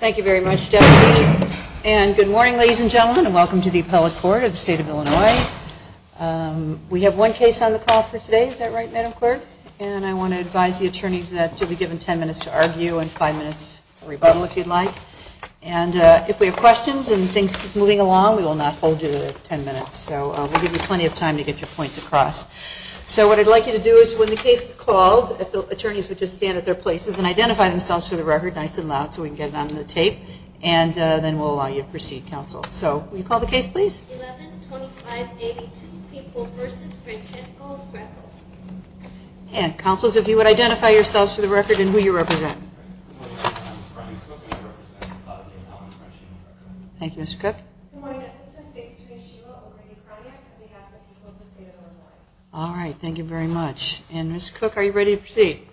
Thank you very much. And good morning, ladies and gentlemen, and welcome to the appellate court of the state of Illinois. We have one case on the call for today. Is that right, Madam Clerk? And I want to advise the attorneys that you'll be given 10 minutes to argue and five minutes rebuttal, if you'd like. And if we have questions and things moving along, we will not hold you to 10 minutes. So we'll give you plenty of time to get your points across. So what I'd like you to do is when the case is called, if the attorneys would just stand at their places and identify themselves for the record, nice and loud, so we can get it on the tape, and then we'll allow you to proceed, counsel. So will you call the case, please? And, counsels, if you would identify yourselves for the record and who you are. All right, thank you very much. And, Mr. Cook, are you ready to proceed?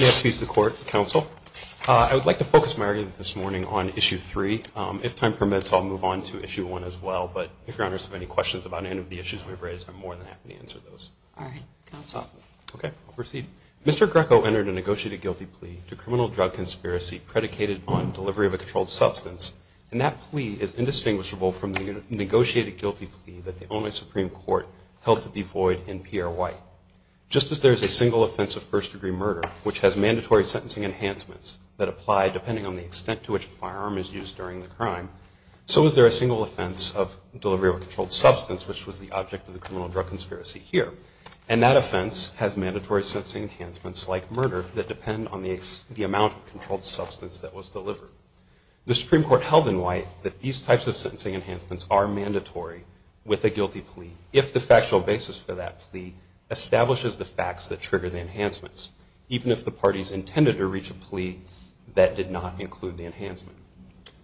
May I speak to the court, counsel? I would like to focus my argument this morning on issue 3. If time permits, I'll move on to issue 1 as well, but if your honors have any questions about any of the issues we've raised, I'm more than happy to answer them. Mr. Ecko entered a negotiated guilty plea to criminal drug conspiracy predicated on delivery of a controlled substance, and that plea is indistinguishable from the negotiated guilty plea that the only Supreme Court held to be void in Pierre White. Just as there is a single offense of first- degree murder, which has mandatory sentencing enhancements that apply depending on the extent to which a firearm is used during the crime, so is there a single offense of delivery of a controlled substance, which was the object of the criminal drug conspiracy here? And that offense has mandatory sentencing enhancements like murder that depend on the amount of controlled substance that was delivered. The Supreme Court held in White that these types of sentencing enhancements are mandatory with a guilty plea if the factual basis for that plea establishes the facts that trigger the enhancements, even if the parties intended to reach a plea that did not include the enhancement.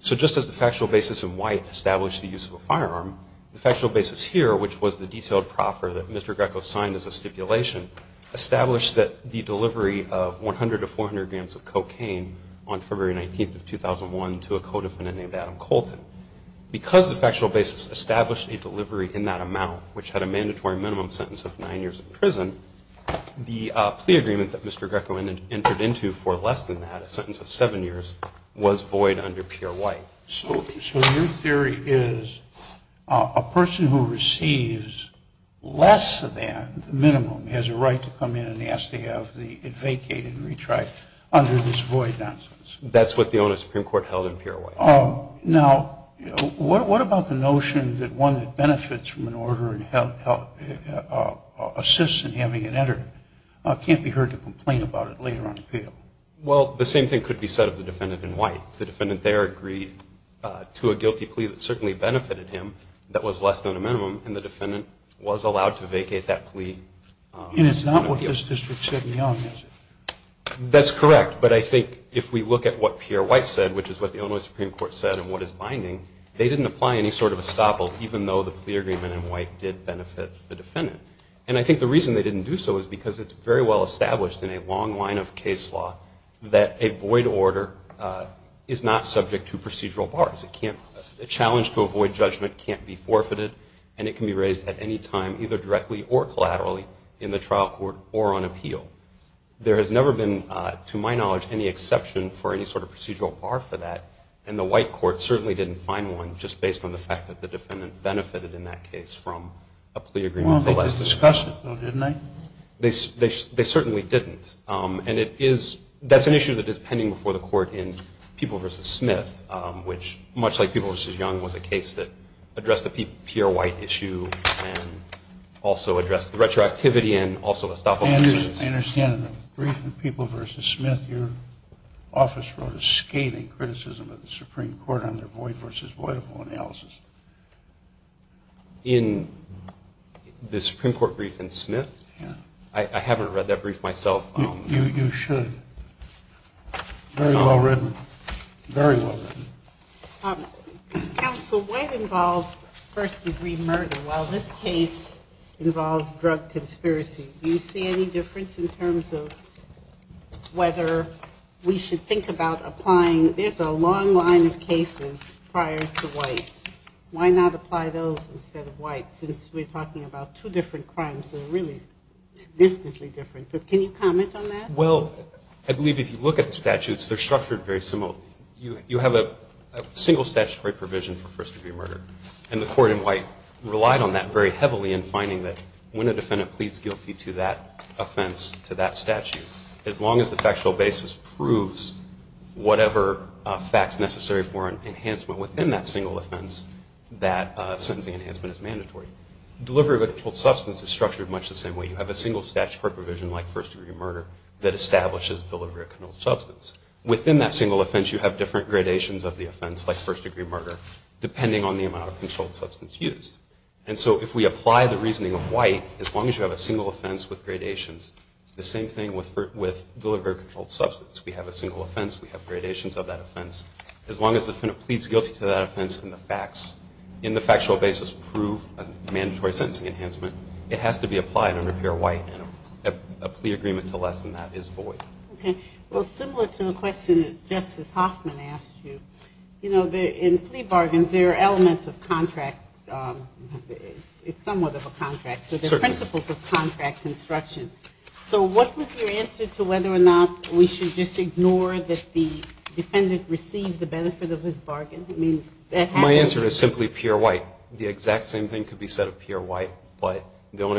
So just as the factual basis in White established the use of a firearm, the factual basis here, which was the detailed proffer that Mr. Ecko signed as a stipulation, established that the delivery of 100 to 400 grams of cocaine on February 19th of 2001 to a co-defendant named Adam Colton, because the factual basis established a delivery in that amount, which had a mandatory minimum sentence of nine years in prison, the plea agreement that Mr. Ecko entered into for less than that, a sentence of seven years, was void under Pierre White. So your theory is a person who receives less than the minimum has a right to come in and ask to have it vacated and retried under this void nonsense? That's what the owner of the Supreme Court held in Pierre White. Now, what about the notion that one that benefits from an order and assists in having it entered can't be heard to complain about it later on in the appeal? Well, the same thing could be said of the defendant in White. The defendant there agreed to a guilty plea that certainly benefited him, that was less than a minimum, and the defendant was allowed to vacate that plea. And it's not what this district said in the office? That's correct. But I think if we look at what Pierre White said, which is what the owner of the Supreme Court said and what is binding, they didn't apply any sort of estoppel, even though the plea agreement in White did benefit the defendant. And I think the reason they didn't do so is because it's very well subject to procedural bars. A challenge to avoid judgment can't be forfeited and it can be raised at any time, either directly or collaterally, in the trial court or on appeal. There has never been, to my knowledge, any exception for any sort of procedural bar for that, and the White court certainly didn't find one just based on the fact that the defendant benefited in that case from a plea agreement. Well, they discussed it, though, didn't they? They certainly didn't. And that's an issue that is pending before the court in People v. Smith, which, much like People v. Young, was a case that addressed the Pierre White issue and also addressed the retroactivity and also estoppel cases. I understand in the brief in People v. Smith, your office wrote a scathing criticism of the Supreme Court on their void v. voidable analysis. In the Supreme Court brief in Smith? Yeah. I haven't read that brief myself. You should. Very well written. Very well written. Counsel, what involved first-degree murder while this case involves drug conspiracy? Do you see any difference in terms of whether we should think about applying? There's a long line of cases prior to White. Why not apply those instead of White, since we're talking about two different crimes that are really significantly different? But can you comment on that? Well, I believe if you look at the statutes, they're structured very similarly. You have a single statutory provision for first-degree murder. And the court in White relied on that very heavily in finding that when a defendant pleads guilty to that offense, to that statute, as long as the factual basis proves whatever facts necessary for an enhancement within that single offense, that sentencing enhancement is mandatory. Delivery of a controlled substance is the same way. You have a single statutory provision like first-degree murder that establishes delivery of a controlled substance. Within that single offense, you have different gradations of the offense, like first-degree murder, depending on the amount of controlled substance used. And so if we apply the reasoning of White, as long as you have a single offense with gradations, the same thing with delivery of a controlled substance. We have a single offense. We have gradations of that offense. As long as the defendant pleads guilty to that offense and the facts in the factual basis prove a mandatory sentencing enhancement, it has to be applied under pure White. And a plea agreement to lessen that is void. Okay. Well, similar to the question that Justice Hoffman asked you, you know, in plea bargains, there are elements of contract. It's somewhat of a contract. Certainly. So there are principles of contract construction. So what was your answer to whether or not we should just ignore that the defendant received the benefit of his bargain? I mean, that has to be ----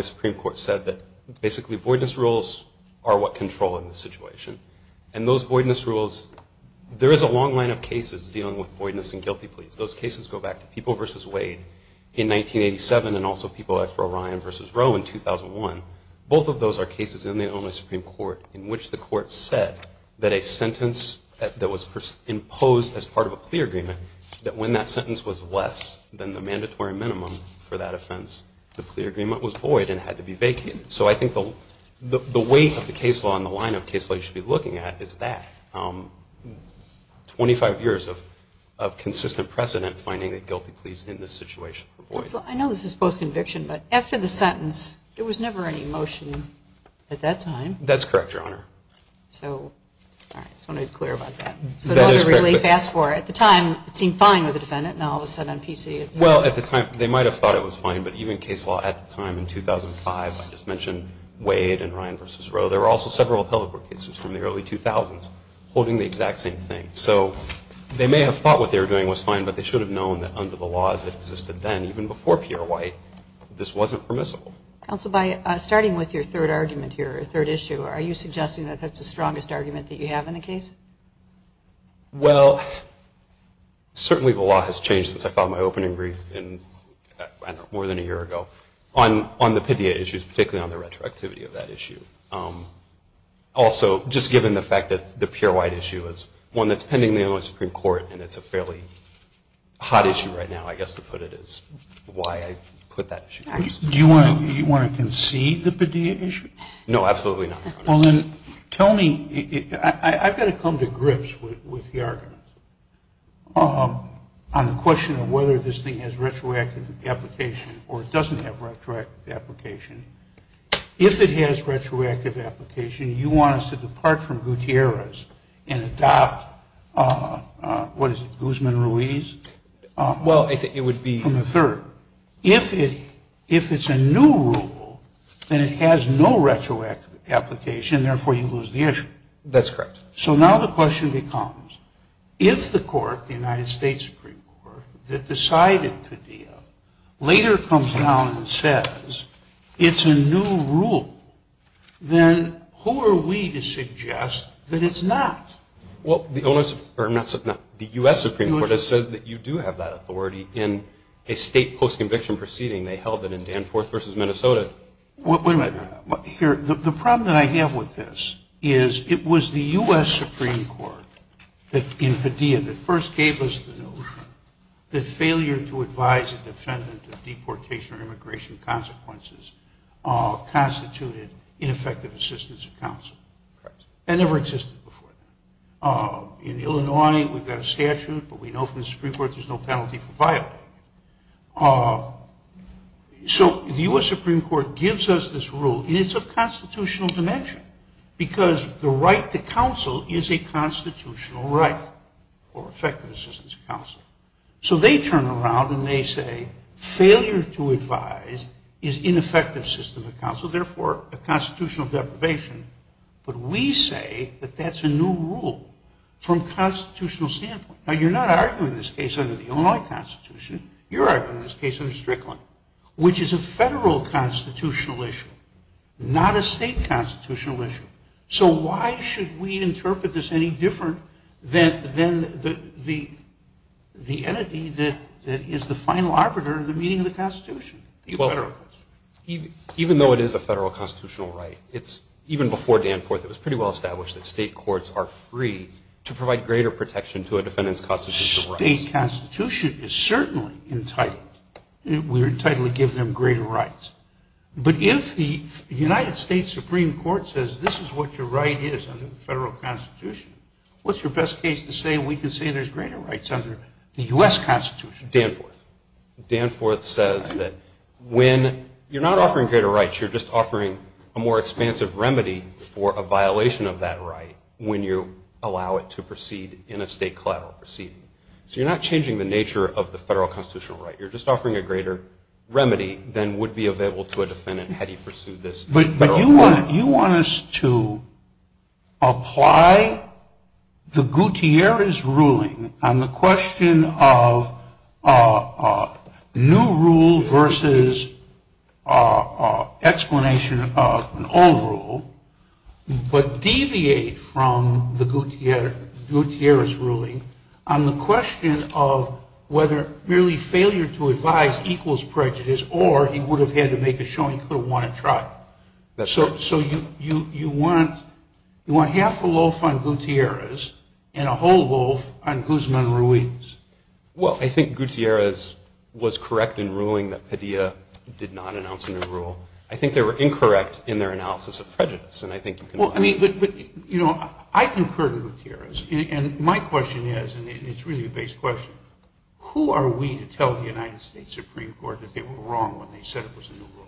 Supreme Court said that basically voidness rules are what control in this situation. And those voidness rules, there is a long line of cases dealing with voidness and guilty pleas. Those cases go back to People v. Wade in 1987 and also People v. O'Ryan v. Roe in 2001. Both of those are cases in the only Supreme Court in which the Court said that a sentence that was imposed as part of a plea agreement, that when that sentence was less than the mandatory minimum for that offense, the plea agreement was void and had to be vacated. So I think the weight of the case law and the line of case law you should be looking at is that. Twenty-five years of consistent precedent finding that guilty pleas in this situation were void. I know this is post-conviction, but after the sentence, there was never any motion at that time. That's correct, Your Honor. So, all right, I just want to be clear about that. That is correct. So to really fast forward, at the time, it seemed fine with the defendant. Now, all of a sudden, on PC, it's ---- Well, at the time, they might have thought it was fine. But even case law at the time in 2005, I just mentioned Wade and Ryan v. Roe, there were also several appellate court cases from the early 2000s holding the exact same thing. So they may have thought what they were doing was fine, but they should have known that under the laws that existed then, even before Pierre White, this wasn't permissible. Counsel, by starting with your third argument here, or third issue, are you suggesting that that's the strongest argument that you have in the case? Well, certainly the law has changed since I filed my opening brief, I don't know, more than a year ago, on the Padilla issues, particularly on the retroactivity of that issue. Also, just given the fact that the Pierre White issue is one that's pending the Illinois Supreme Court, and it's a fairly hot issue right now, I guess to put it is why I put that issue first. Do you want to concede the Padilla issue? No, absolutely not, Your Honor. Well then, tell me, I've got to come to grips with the argument on the question of whether this thing has retroactive application or it doesn't have retroactive application. If it has retroactive application, you want us to depart from Gutierrez and adopt, what is it, Guzman-Ruiz? Well, I think it would be- From the third. If it's a new rule, then it has no retroactive application, therefore you lose the issue. That's correct. So now the question becomes, if the court, the United States Supreme Court, that decided Padilla, later comes down and says it's a new rule, then who are we to suggest that it's not? Well, the U.S. Supreme Court has said that you do have that authority in a state post-conviction proceeding. They held it in Danforth versus Minnesota. Wait a minute. The problem that I have with this is it was the U.S. Supreme Court in Padilla that first gave us the notion that failure to advise a defendant of deportation or immigration consequences constituted ineffective assistance of counsel. Correct. That never existed before. In Illinois, we've got a statute, but we know from the Supreme Court there's no penalty for violating it. So the U.S. Supreme Court gives us this rule, and it's of constitutional dimension, because the right to counsel is a constitutional right or effective assistance of counsel. So they turn around and they say failure to advise is ineffective assistance of counsel, therefore a constitutional deprivation. But we say that that's a new rule from a constitutional standpoint. Now, you're not arguing this case under the Illinois Constitution. You're arguing this case under Strickland, which is a federal constitutional issue, not a state constitutional issue. So why should we interpret this any different than the entity that is the final arbiter in the meaning of the Constitution? Even though it is a federal constitutional right, even before Danforth, it was pretty well established that state courts are free to provide greater protection to a defendant's constitutional rights. State constitution is certainly entitled. We're entitled to give them greater rights. But if the United States Supreme Court says this is what your right is under the federal constitution, what's your best case to say we can say there's greater rights under the U.S. Constitution? Danforth. Danforth says that when you're not offering greater rights, you're just offering a more expansive remedy for a violation of that right when you allow it to proceed in a state collateral proceeding. So you're not changing the nature of the federal constitutional right. You're just offering a greater remedy than would be available to a defendant had he pursued this. But you want us to apply the Gutierrez ruling on the question of new rule versus explanation of an old rule, but deviate from the Gutierrez ruling on the question of whether merely failure to advise equals prejudice or he would have had to make a showing he could have won a trial. So you want half a loaf on Gutierrez and a whole loaf on Guzman-Ruiz. Well, I think Gutierrez was correct in ruling that Padilla did not announce a new rule. I think they were incorrect in their analysis of prejudice, and I think you can Well, I mean, but, you know, I concur to Gutierrez, and my question is, and it's really a base question, who are we to tell the United States Supreme Court that they were wrong when they said it was a new rule?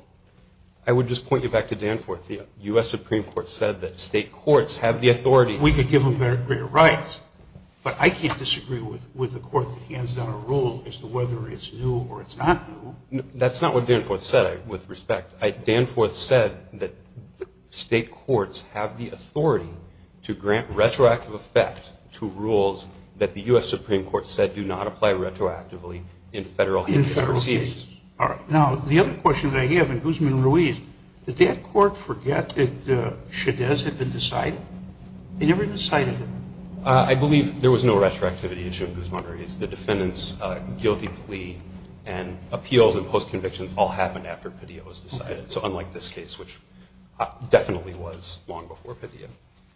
I would just point you back to Danforth. The U.S. Supreme Court said that state courts have the authority. We could give them greater rights, but I can't disagree with a court that hands down a rule as to whether it's new or it's not new. That's not what Danforth said, with respect. Danforth said that state courts have the authority to grant retroactive effect to rules that the U.S. Supreme Court said do not apply retroactively in federal cases. In federal cases. All right. Now, the other question that I have in Guzman-Ruiz, did that court forget that I believe there was no retroactivity issue in Guzman-Ruiz. The defendant's guilty plea and appeals and post-convictions all happened after Padilla was decided, so unlike this case, which definitely was long before Padilla.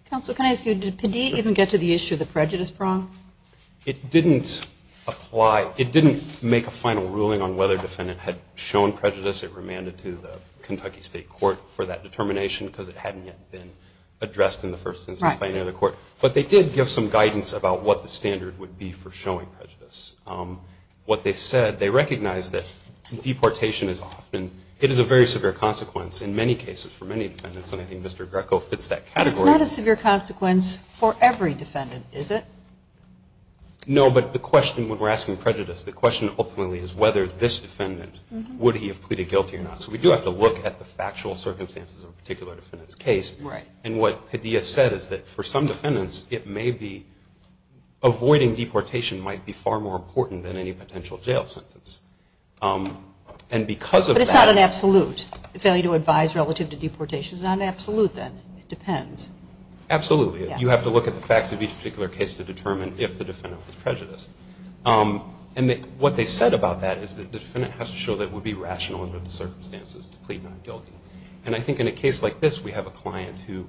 Counsel, can I ask you, did Padilla even get to the issue of the prejudice prong? It didn't apply. It didn't make a final ruling on whether the defendant had shown prejudice. It remanded to the Kentucky State Court for that determination because it hadn't yet been addressed in the first instance by any other court, but they did give some guidance about what the standard would be for showing prejudice. What they said, they recognized that deportation is often, it is a very severe consequence in many cases for many defendants, and I think Mr. Greco fits that category. But it's not a severe consequence for every defendant, is it? No, but the question, when we're asking prejudice, the question ultimately is whether this defendant, would he have pleaded guilty or not? So we do have to look at the factual circumstances of a particular defendant's case. Right. And what Padilla said is that for some defendants, it may be, avoiding deportation might be far more important than any potential jail sentence. And because of that. But it's not an absolute. Failure to advise relative to deportation is not an absolute then. It depends. Absolutely. You have to look at the facts of each particular case to determine if the defendant was prejudiced. And what they said about that is that the defendant has to show that it would be reasonable under those circumstances to plead not guilty. And I think in a case like this, we have a client who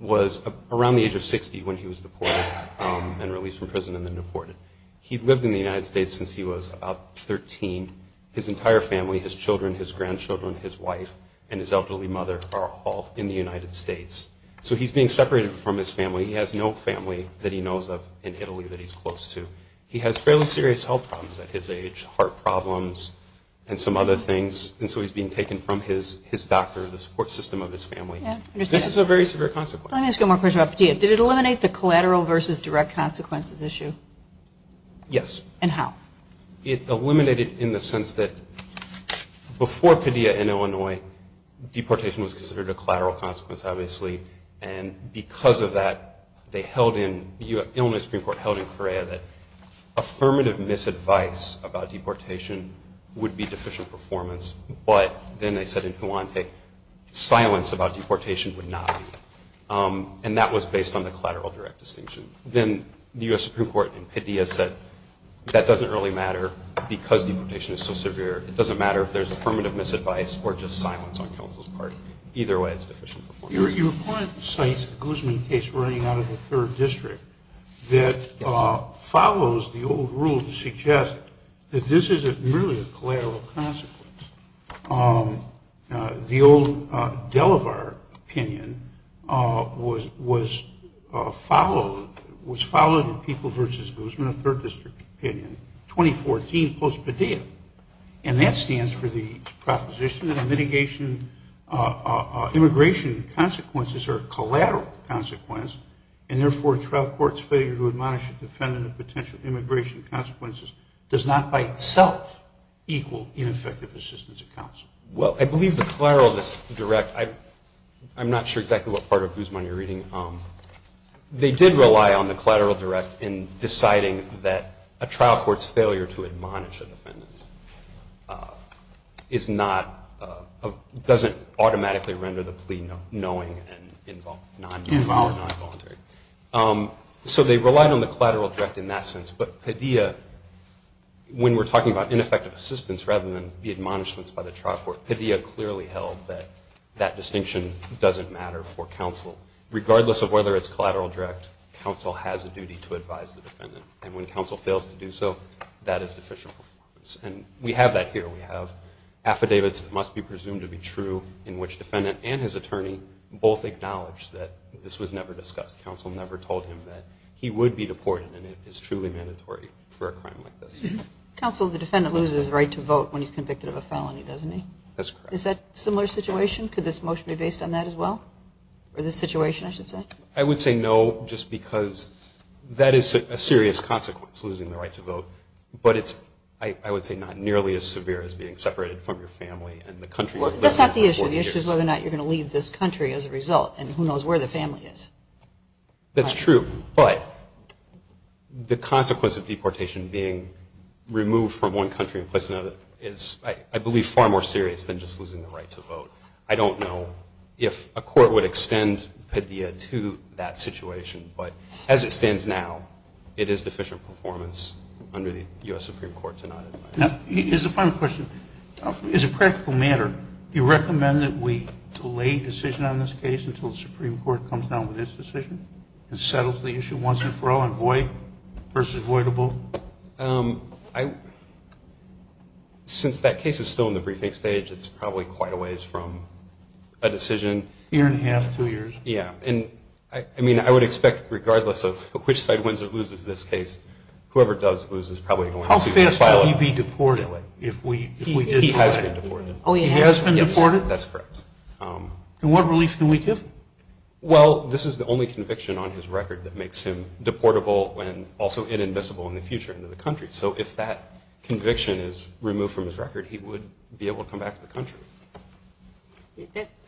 was around the age of 60 when he was deported and released from prison and then deported. He lived in the United States since he was about 13. His entire family, his children, his grandchildren, his wife, and his elderly mother are all in the United States. So he's being separated from his family. He has no family that he knows of in Italy that he's close to. He has fairly serious health problems at his age. Heart problems and some other things. And so he's being taken from his doctor, the support system of his family. This is a very severe consequence. Let me ask you one more question about Padilla. Did it eliminate the collateral versus direct consequences issue? Yes. And how? It eliminated in the sense that before Padilla in Illinois, deportation was considered a collateral consequence, obviously. And because of that, they held in, the Illinois Supreme Court held in Correa that affirmative misadvice about deportation would be deficient performance. But then they said in Huante, silence about deportation would not be. And that was based on the collateral direct distinction. Then the US Supreme Court in Padilla said, that doesn't really matter because deportation is so severe. It doesn't matter if there's affirmative misadvice or just silence on counsel's part. Either way, it's deficient performance. You reported the Sainz-Guzman case running out of the third district that follows the old rule to suggest that this is merely a collateral consequence. The old Delavar opinion was followed in People versus Guzman, a third district opinion, 2014 post-Padilla. And that stands for the proposition that immigration consequences are not by itself equal in effective assistance of counsel. Well, I believe the collateral of this direct, I'm not sure exactly what part of Guzman you're reading. They did rely on the collateral direct in deciding that a trial court's failure to admonish a defendant doesn't automatically render the plea knowing and involuntary. So they relied on the collateral direct in that sense. But Padilla, when we're talking about ineffective assistance rather than the admonishments by the trial court, Padilla clearly held that that distinction doesn't matter for counsel. Regardless of whether it's collateral direct, counsel has a duty to advise the defendant. And when counsel fails to do so, that is deficient performance. And we have that here. We have affidavits that must be presumed to be true in which defendant and his attorney both acknowledge that this was never discussed. Counsel never told him that he would be deported and it is truly mandatory for a crime like this. Counsel, the defendant loses the right to vote when he's convicted of a felony, doesn't he? That's correct. Is that a similar situation? Could this motion be based on that as well? Or this situation, I should say? I would say no, just because that is a serious consequence, losing the right to vote. But it's, I would say, not nearly as severe as being separated from your family and the country you live in for 40 years. Well, that's not the issue. The issue is whether or not you're going to leave this country as a result, and who knows where the family is. That's true. But the consequence of deportation being removed from one country and placed in another is, I believe, far more serious than just losing the right to vote. I don't know if a court would extend Padilla to that situation. But as it stands now, it is deficient performance under the U.S. Supreme Court to not advise. Now, here's a final question. As a practical matter, do you recommend that we delay a decision on this case until the Supreme Court comes down with its decision and settles the issue once and for all and avoid versus avoidable? Since that case is still in the briefing stage, it's probably quite a ways from a decision. Year and a half, two years. Yeah, and I mean, I would expect, regardless of which side wins or loses this case, whoever does lose is probably going to file a- How fast will he be deported if we- He has been deported. Oh, he has been deported? That's correct. And what relief can we give? Well, this is the only conviction on his record that makes him deportable and also inadmissible in the future into the country. So if that conviction is removed from his record, he would be able to come back to the country.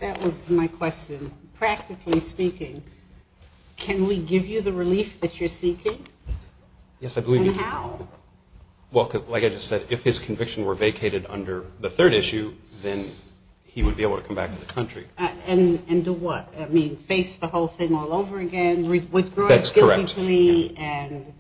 That was my question. Practically speaking, can we give you the relief that you're seeking? Yes, I believe- And how? Well, like I just said, if his conviction were vacated under the third issue, then he would be able to come back to the country. And do what? I mean, face the whole thing all over again? Withdraw it guiltily? That's correct. And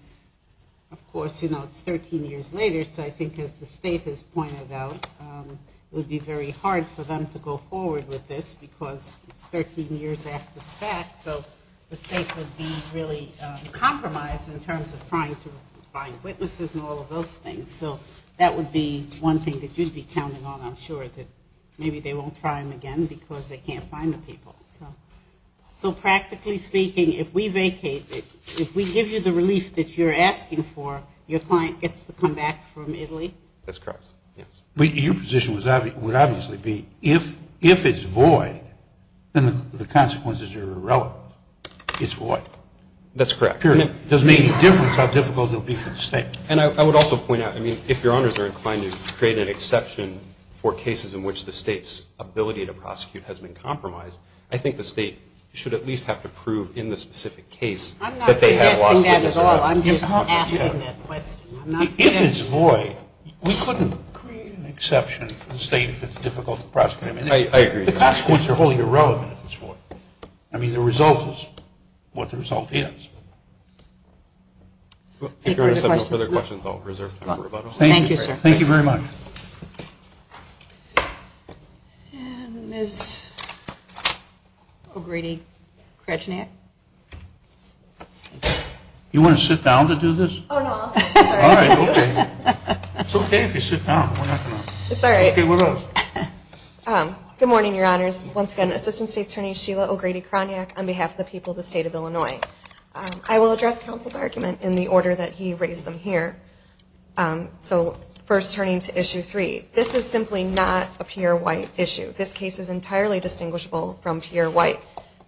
of course, it's 13 years later, so I think as the state has pointed out, it would be very hard for them to go forward with this because it's 13 years after the fact. So the state would be really compromised in terms of trying to So that would be one thing that you'd be counting on, I'm sure, that maybe they won't try him again because they can't find the people. So practically speaking, if we vacate, if we give you the relief that you're asking for, your client gets to come back from Italy? That's correct, yes. But your position would obviously be if it's void, then the consequences are irrelevant. It's void. That's correct. Period. It doesn't make any difference how difficult it will be for the state. And I would also point out, I mean, if your honors are inclined to create an exception for cases in which the state's ability to prosecute has been compromised, I think the state should at least have to prove in the specific case that they have lost. I'm not suggesting that at all, I'm just asking that question. If it's void, we couldn't create an exception for the state if it's difficult to prosecute. I agree. The consequences are wholly irrelevant if it's void. I mean, the result is what the result is. If there are no further questions, I'll reserve time for rebuttal. Thank you, sir. Thank you very much. And Ms. O'Grady-Kroniak. You want to sit down to do this? Oh, no, I'll sit down. All right, okay. It's okay if you sit down. It's all right. Okay, what else? Good morning, your honors. Once again, Assistant State Attorney Sheila O'Grady-Kroniak on behalf of the people of the state of Illinois. I will address counsel's argument in the order that he raised them here. So, first turning to issue three. This is simply not a Pierre White issue. This case is entirely distinguishable from Pierre White.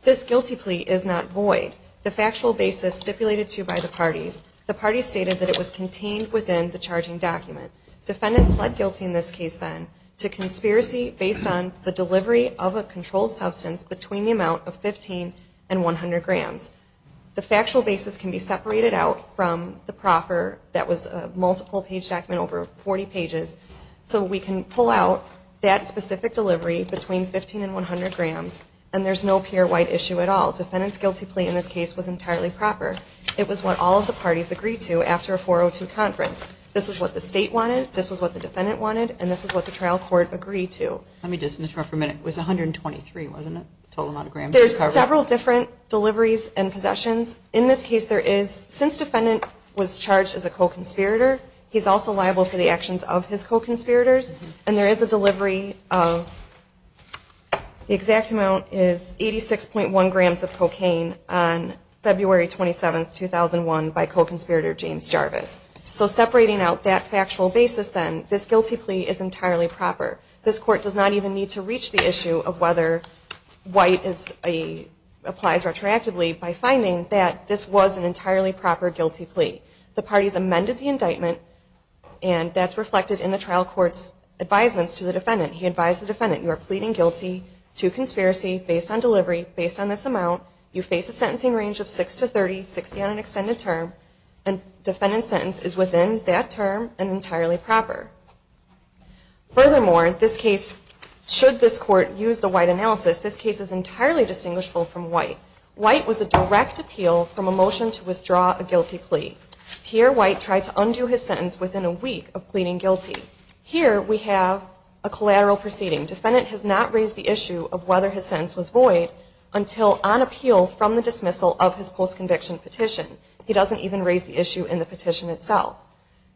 This guilty plea is not void. The factual basis stipulated to by the parties, the parties stated that it was contained within the charging document. Defendant pled guilty in this case, then, to conspiracy based on the delivery of a controlled substance between the amount of 15 and 100 grams. The factual basis can be separated out from the proffer that was a multiple page document over 40 pages. So, we can pull out that specific delivery between 15 and 100 grams. And there's no Pierre White issue at all. Defendant's guilty plea in this case was entirely proper. It was what all of the parties agreed to after a 402 conference. This is what the state wanted. This is what the defendant wanted. And this is what the trial court agreed to. Let me just interrupt for a minute. It was 123, wasn't it? Total amount of grams. There's several different deliveries and possessions. In this case, there is, since defendant was charged as a co-conspirator, he's also liable for the actions of his co-conspirators. And there is a delivery of, the exact amount is 86.1 grams of cocaine on February 27, 2001, by co-conspirator James Jarvis. So, separating out that factual basis, then, this guilty plea is entirely proper. This court does not even need to reach the issue of whether White applies retroactively by finding that this was an entirely proper guilty plea. The parties amended the indictment. And that's reflected in the trial court's advisements to the defendant. He advised the defendant, you are pleading guilty to conspiracy based on delivery, based on this amount. You face a sentencing range of 6 to 30, 60 on an extended term. And defendant's sentence is within that term and entirely proper. Furthermore, this case, should this court use the White analysis, this case is entirely distinguishable from White. White was a direct appeal from a motion to withdraw a guilty plea. Here, White tried to undo his sentence within a week of pleading guilty. Here, we have a collateral proceeding. Defendant has not raised the issue of whether his sentence was void until on appeal from the dismissal of his post-conviction petition. He doesn't even raise the issue in the petition itself.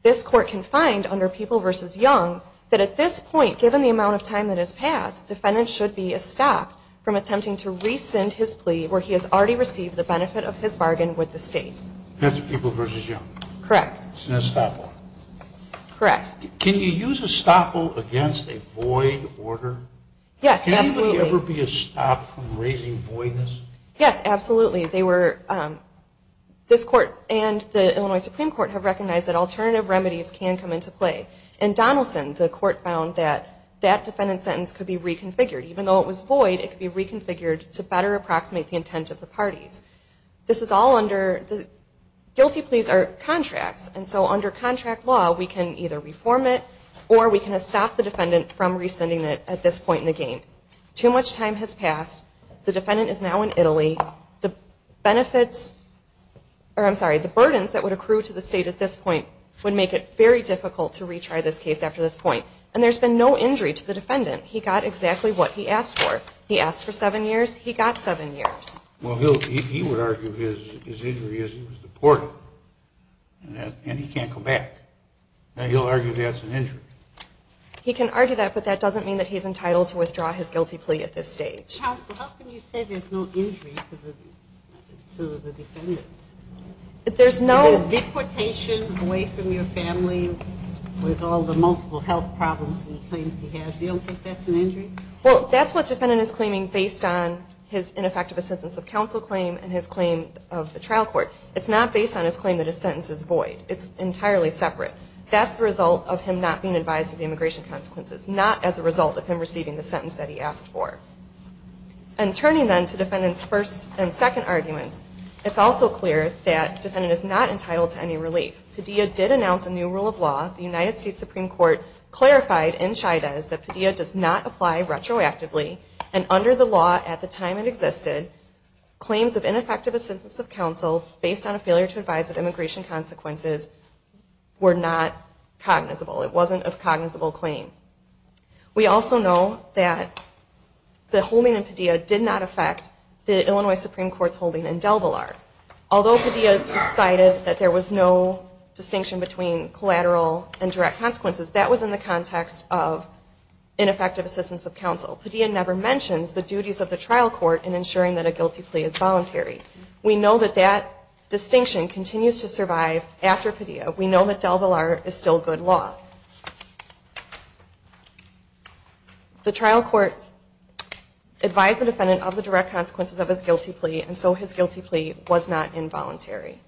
This court can find under People v. Young, that at this point, given the amount of time that has passed, defendant should be estopped from attempting to rescind his plea where he has already received the benefit of his bargain with the state. That's People v. Young? Correct. It's an estoppel? Correct. Can you use a estoppel against a void order? Yes, absolutely. Can anybody ever be estopped from raising voidness? Yes, absolutely. They were, this court and the Illinois Supreme Court have recognized that alternative remedies can come into play. In Donaldson, the court found that that defendant's sentence could be reconfigured. Even though it was void, it could be reconfigured to better approximate the intent of the parties. This is all under, guilty pleas are contracts. And so under contract law, we can either reform it or we can estop the defendant from rescinding it at this point in the game. Too much time has passed. The defendant is now in Italy. The benefits, or I'm sorry, the burdens that would accrue to the state at this point would make it very difficult to retry this case after this point. And there's been no injury to the defendant. He got exactly what he asked for. He asked for seven years. He got seven years. Well, he would argue his injury is that he was deported and he can't come back. Now, he'll argue that's an injury. He can argue that, but that doesn't mean that he's entitled to withdraw his guilty plea at this stage. Ms. Johnson, how can you say there's no injury to the defendant? There's no... Deportation away from your family with all the multiple health problems and claims he has, you don't think that's an injury? Well, that's what defendant is claiming based on his ineffective assentence of counsel claim and his claim of the trial court. It's not based on his claim that his sentence is void. It's entirely separate. That's the result of him not being advised of the immigration consequences. Not as a result of him receiving the sentence that he asked for. And turning then to defendant's first and second arguments, it's also clear that defendant is not entitled to any relief. Padilla did announce a new rule of law. The United States Supreme Court clarified in Chida's that Padilla does not apply retroactively and under the law at the time it existed, claims of ineffective assentence of counsel based on a failure to advise of immigration consequences were not cognizable. It wasn't a cognizable claim. We also know that the holding in Padilla did not affect the Illinois Supreme Court's holding in DelVillar. Although Padilla decided that there was no distinction between collateral and direct consequences, that was in the context of ineffective assentence of counsel. Padilla never mentions the duties of the trial court in ensuring that a guilty plea is voluntary. We know that that distinction continues to survive after Padilla. We know that DelVillar is still good law. The trial court advised the defendant of the direct consequences of his guilty plea, and so his guilty plea was not involuntary.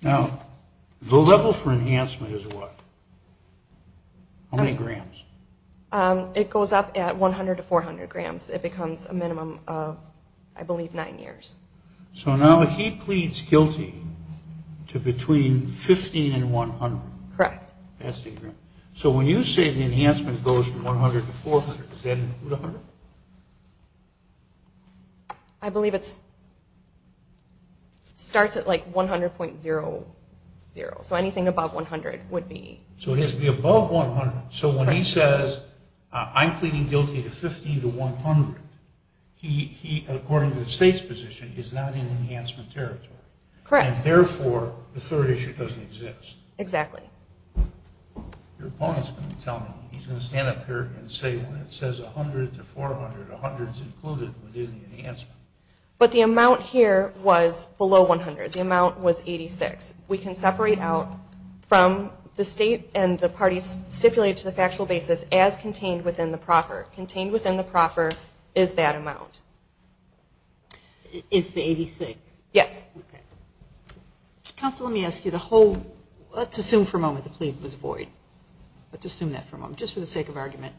Now, the level for enhancement is what? How many grams? It goes up at 100 to 400 grams. It becomes a minimum of, I believe, nine years. So now he pleads guilty to between 15 and 100. Correct. That's the agreement. So when you say the enhancement goes from 100 to 400, does that include 100? I believe it starts at like 100.00, so anything above 100 would be. So it has to be above 100. So when he says, I'm pleading guilty to 15 to 100, he, according to the state's position, is not in enhancement territory. Correct. And therefore, the third issue doesn't exist. Exactly. Your opponent's going to tell me. He's going to stand up here and say, well, it says 100 to 400. 100 is included within the enhancement. But the amount here was below 100. The amount was 86. We can separate out from the state and the parties stipulated to the factual basis as contained within the proffer. Contained within the proffer is that amount. It's the 86? Yes. Counsel, let me ask you, the whole, let's assume for a moment the plea was void. Let's assume that for a moment, just for the sake of argument.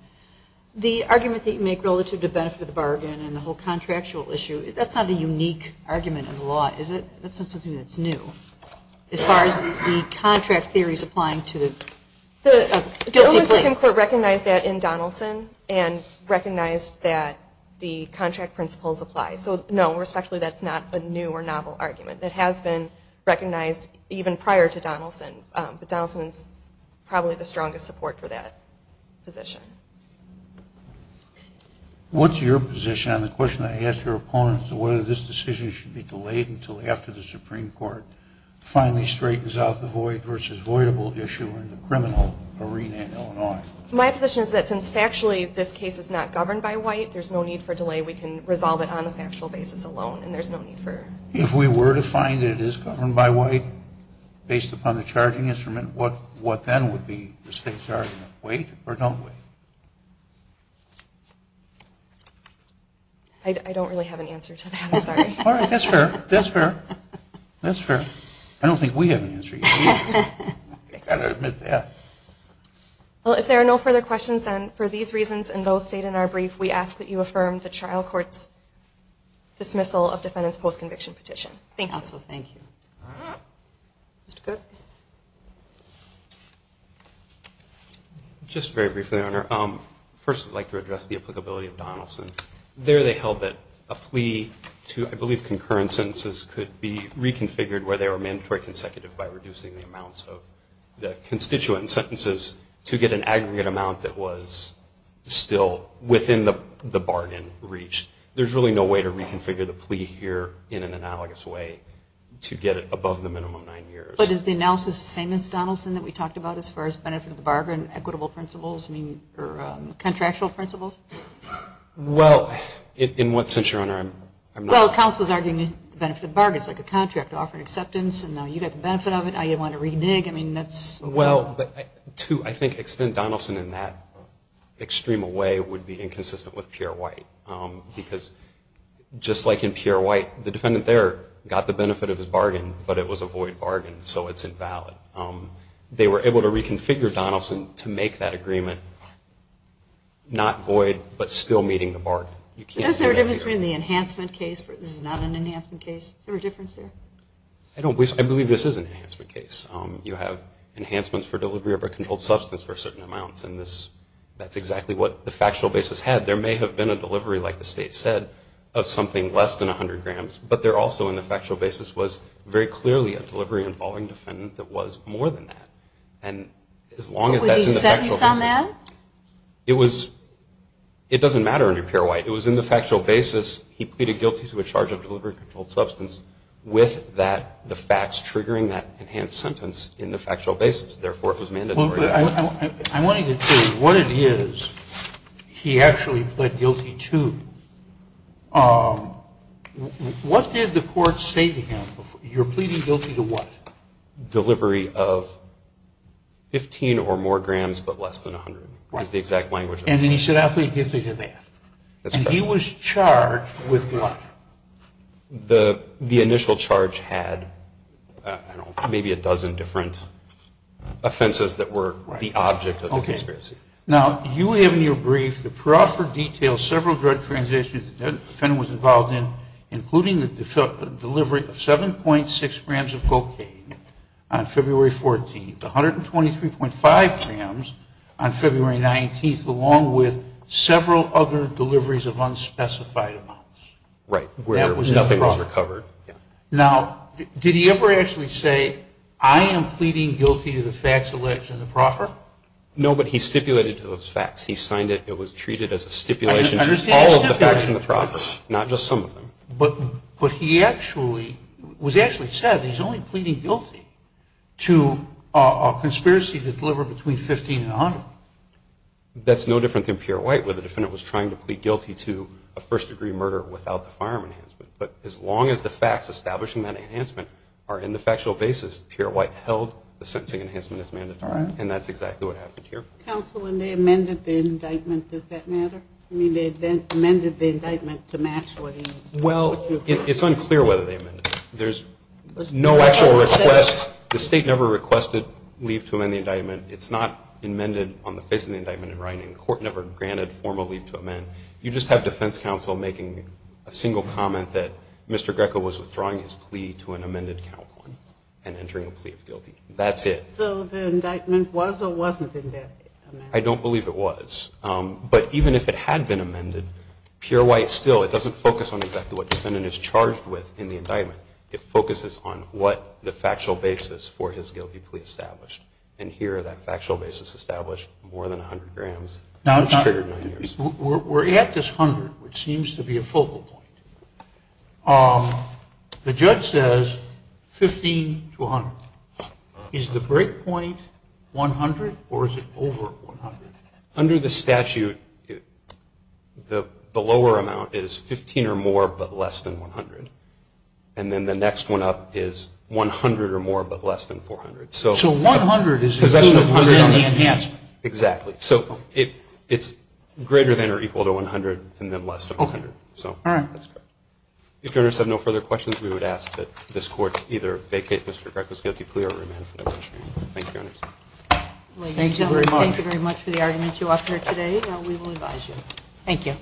The argument that you make relative to benefit of the bargain and the whole contractual issue, that's not a unique argument in the law, is it? That's not something that's new. As far as the contract theories applying to the guilty plea. The Oversight and Court recognized that in Donaldson and recognized that the contract principles apply. So no, respectfully, that's not a new or novel argument. It has been recognized even prior to Donaldson. But Donaldson is probably the strongest support for that position. What's your position on the question I asked your opponent as to whether this decision should be delayed until after the Supreme Court finally straightens out the void versus voidable issue in the criminal arena in Illinois? My position is that since factually this case is not governed by white, there's no need for delay. We can resolve it on a factual basis alone and there's no need for. If we were to find it is governed by white, based upon the charging instrument, what then would be the state's argument? Wait or don't wait? I don't really have an answer to that, I'm sorry. All right, that's fair. That's fair. That's fair. I don't think we have an answer either. You've got to admit that. Well, if there are no further questions, then for these reasons and those stated in our brief, we ask that you affirm the trial court's dismissal of defendant's post-conviction petition. Thank you. Also, thank you. Mr. Cook? Just very briefly, Your Honor. First, I'd like to address the applicability of Donaldson. There they held that a plea to, I believe, concurrent sentences could be reconfigured where they were mandatory consecutive by reducing the amounts of the constituent sentences to get an aggregate amount that was still within the bargain reach. There's really no way to reconfigure the plea here in an analogous way to get it above the minimum nine years. But is the analysis the same as Donaldson that we talked about as far as benefit of the bargain, equitable principles, I mean, or contractual principles? Well, in what sense, Your Honor? Well, counsel is arguing the benefit of the bargain. It's like a contract offering acceptance, and now you get the benefit of it. Now you want to renege. I mean, that's – Well, but to, I think, extend Donaldson in that extreme a way would be inconsistent with Pierre White, because just like in Pierre White, the defendant there got the benefit of his bargain, but it was a void bargain, so it's invalid. They were able to reconfigure Donaldson to make that agreement not void but still meeting the bargain. You can't do that here. Is there a difference between the enhancement case? This is not an enhancement case. Is there a difference there? I believe this is an enhancement case. You have enhancements for delivery of a controlled substance for certain amounts, and that's exactly what the factual basis had. There may have been a delivery, like the State said, of something less than 100 grams, but there also in the factual basis was very clearly a delivery involving defendant that was more than that. And as long as that's in the factual basis – Was he sentenced on that? It was – it doesn't matter under Pierre White. It was in the factual basis he pleaded guilty to a charge of delivery of a controlled substance with that – the facts triggering that enhanced sentence in the factual basis. Therefore, it was mandatory. I wanted to say what it is he actually pled guilty to. What did the court say to him? You're pleading guilty to what? Delivery of 15 or more grams but less than 100 is the exact language. And then he said, I plead guilty to that. That's correct. And he was charged with what? The initial charge had, I don't know, maybe a dozen different offenses that were the object of the conspiracy. Okay. Now, you have in your brief the proper details of several drug transactions the defendant was involved in, including the delivery of 7.6 grams of cocaine on February 14th, 123.5 grams on February 19th, along with several other deliveries of unspecified amounts. Right, where nothing was recovered. Now, did he ever actually say, I am pleading guilty to the facts alleged in the proffer? No, but he stipulated to those facts. He signed it. It was treated as a stipulation to all of the facts in the proffer, not just some of them. But he actually – it was actually said he's only pleading guilty to a conspiracy that delivered between 15 and 100. That's no different than Pierre White, where the defendant was trying to plead guilty to a first-degree murder without the firearm enhancement. But as long as the facts establishing that enhancement are in the factual basis, Pierre White held the sentencing enhancement as mandatory. And that's exactly what happened here. Counsel, when they amended the indictment, does that matter? I mean, they amended the indictment to match what he – Well, it's unclear whether they amended it. There's no actual request. The state never requested leave to amend the indictment. It's not amended on the basis of the indictment in writing. The court never granted formal leave to amend. You just have defense counsel making a single comment that Mr. Greco was withdrawing his plea to an amended count on and entering a plea of guilty. That's it. So the indictment was or wasn't amended? I don't believe it was. But even if it had been amended, Pierre White still – it doesn't focus on exactly what the defendant is charged with in the indictment. It focuses on what the factual basis for his guilty plea established. And here, that factual basis established more than 100 grams, which triggered 9 years. We're at this 100, which seems to be a focal point. The judge says 15 to 100. Is the break point 100 or is it over 100? Under the statute, the lower amount is 15 or more but less than 100. And then the next one up is 100 or more but less than 400. So 100 is included within the enhancement. Exactly. So it's greater than or equal to 100 and then less than 100. All right. If you have no further questions, we would ask that this Court either vacate Mr. Greco's guilty plea or remand him. Thank you, Your Honor. Thank you very much for the arguments you offered today. We will advise you. Thank you.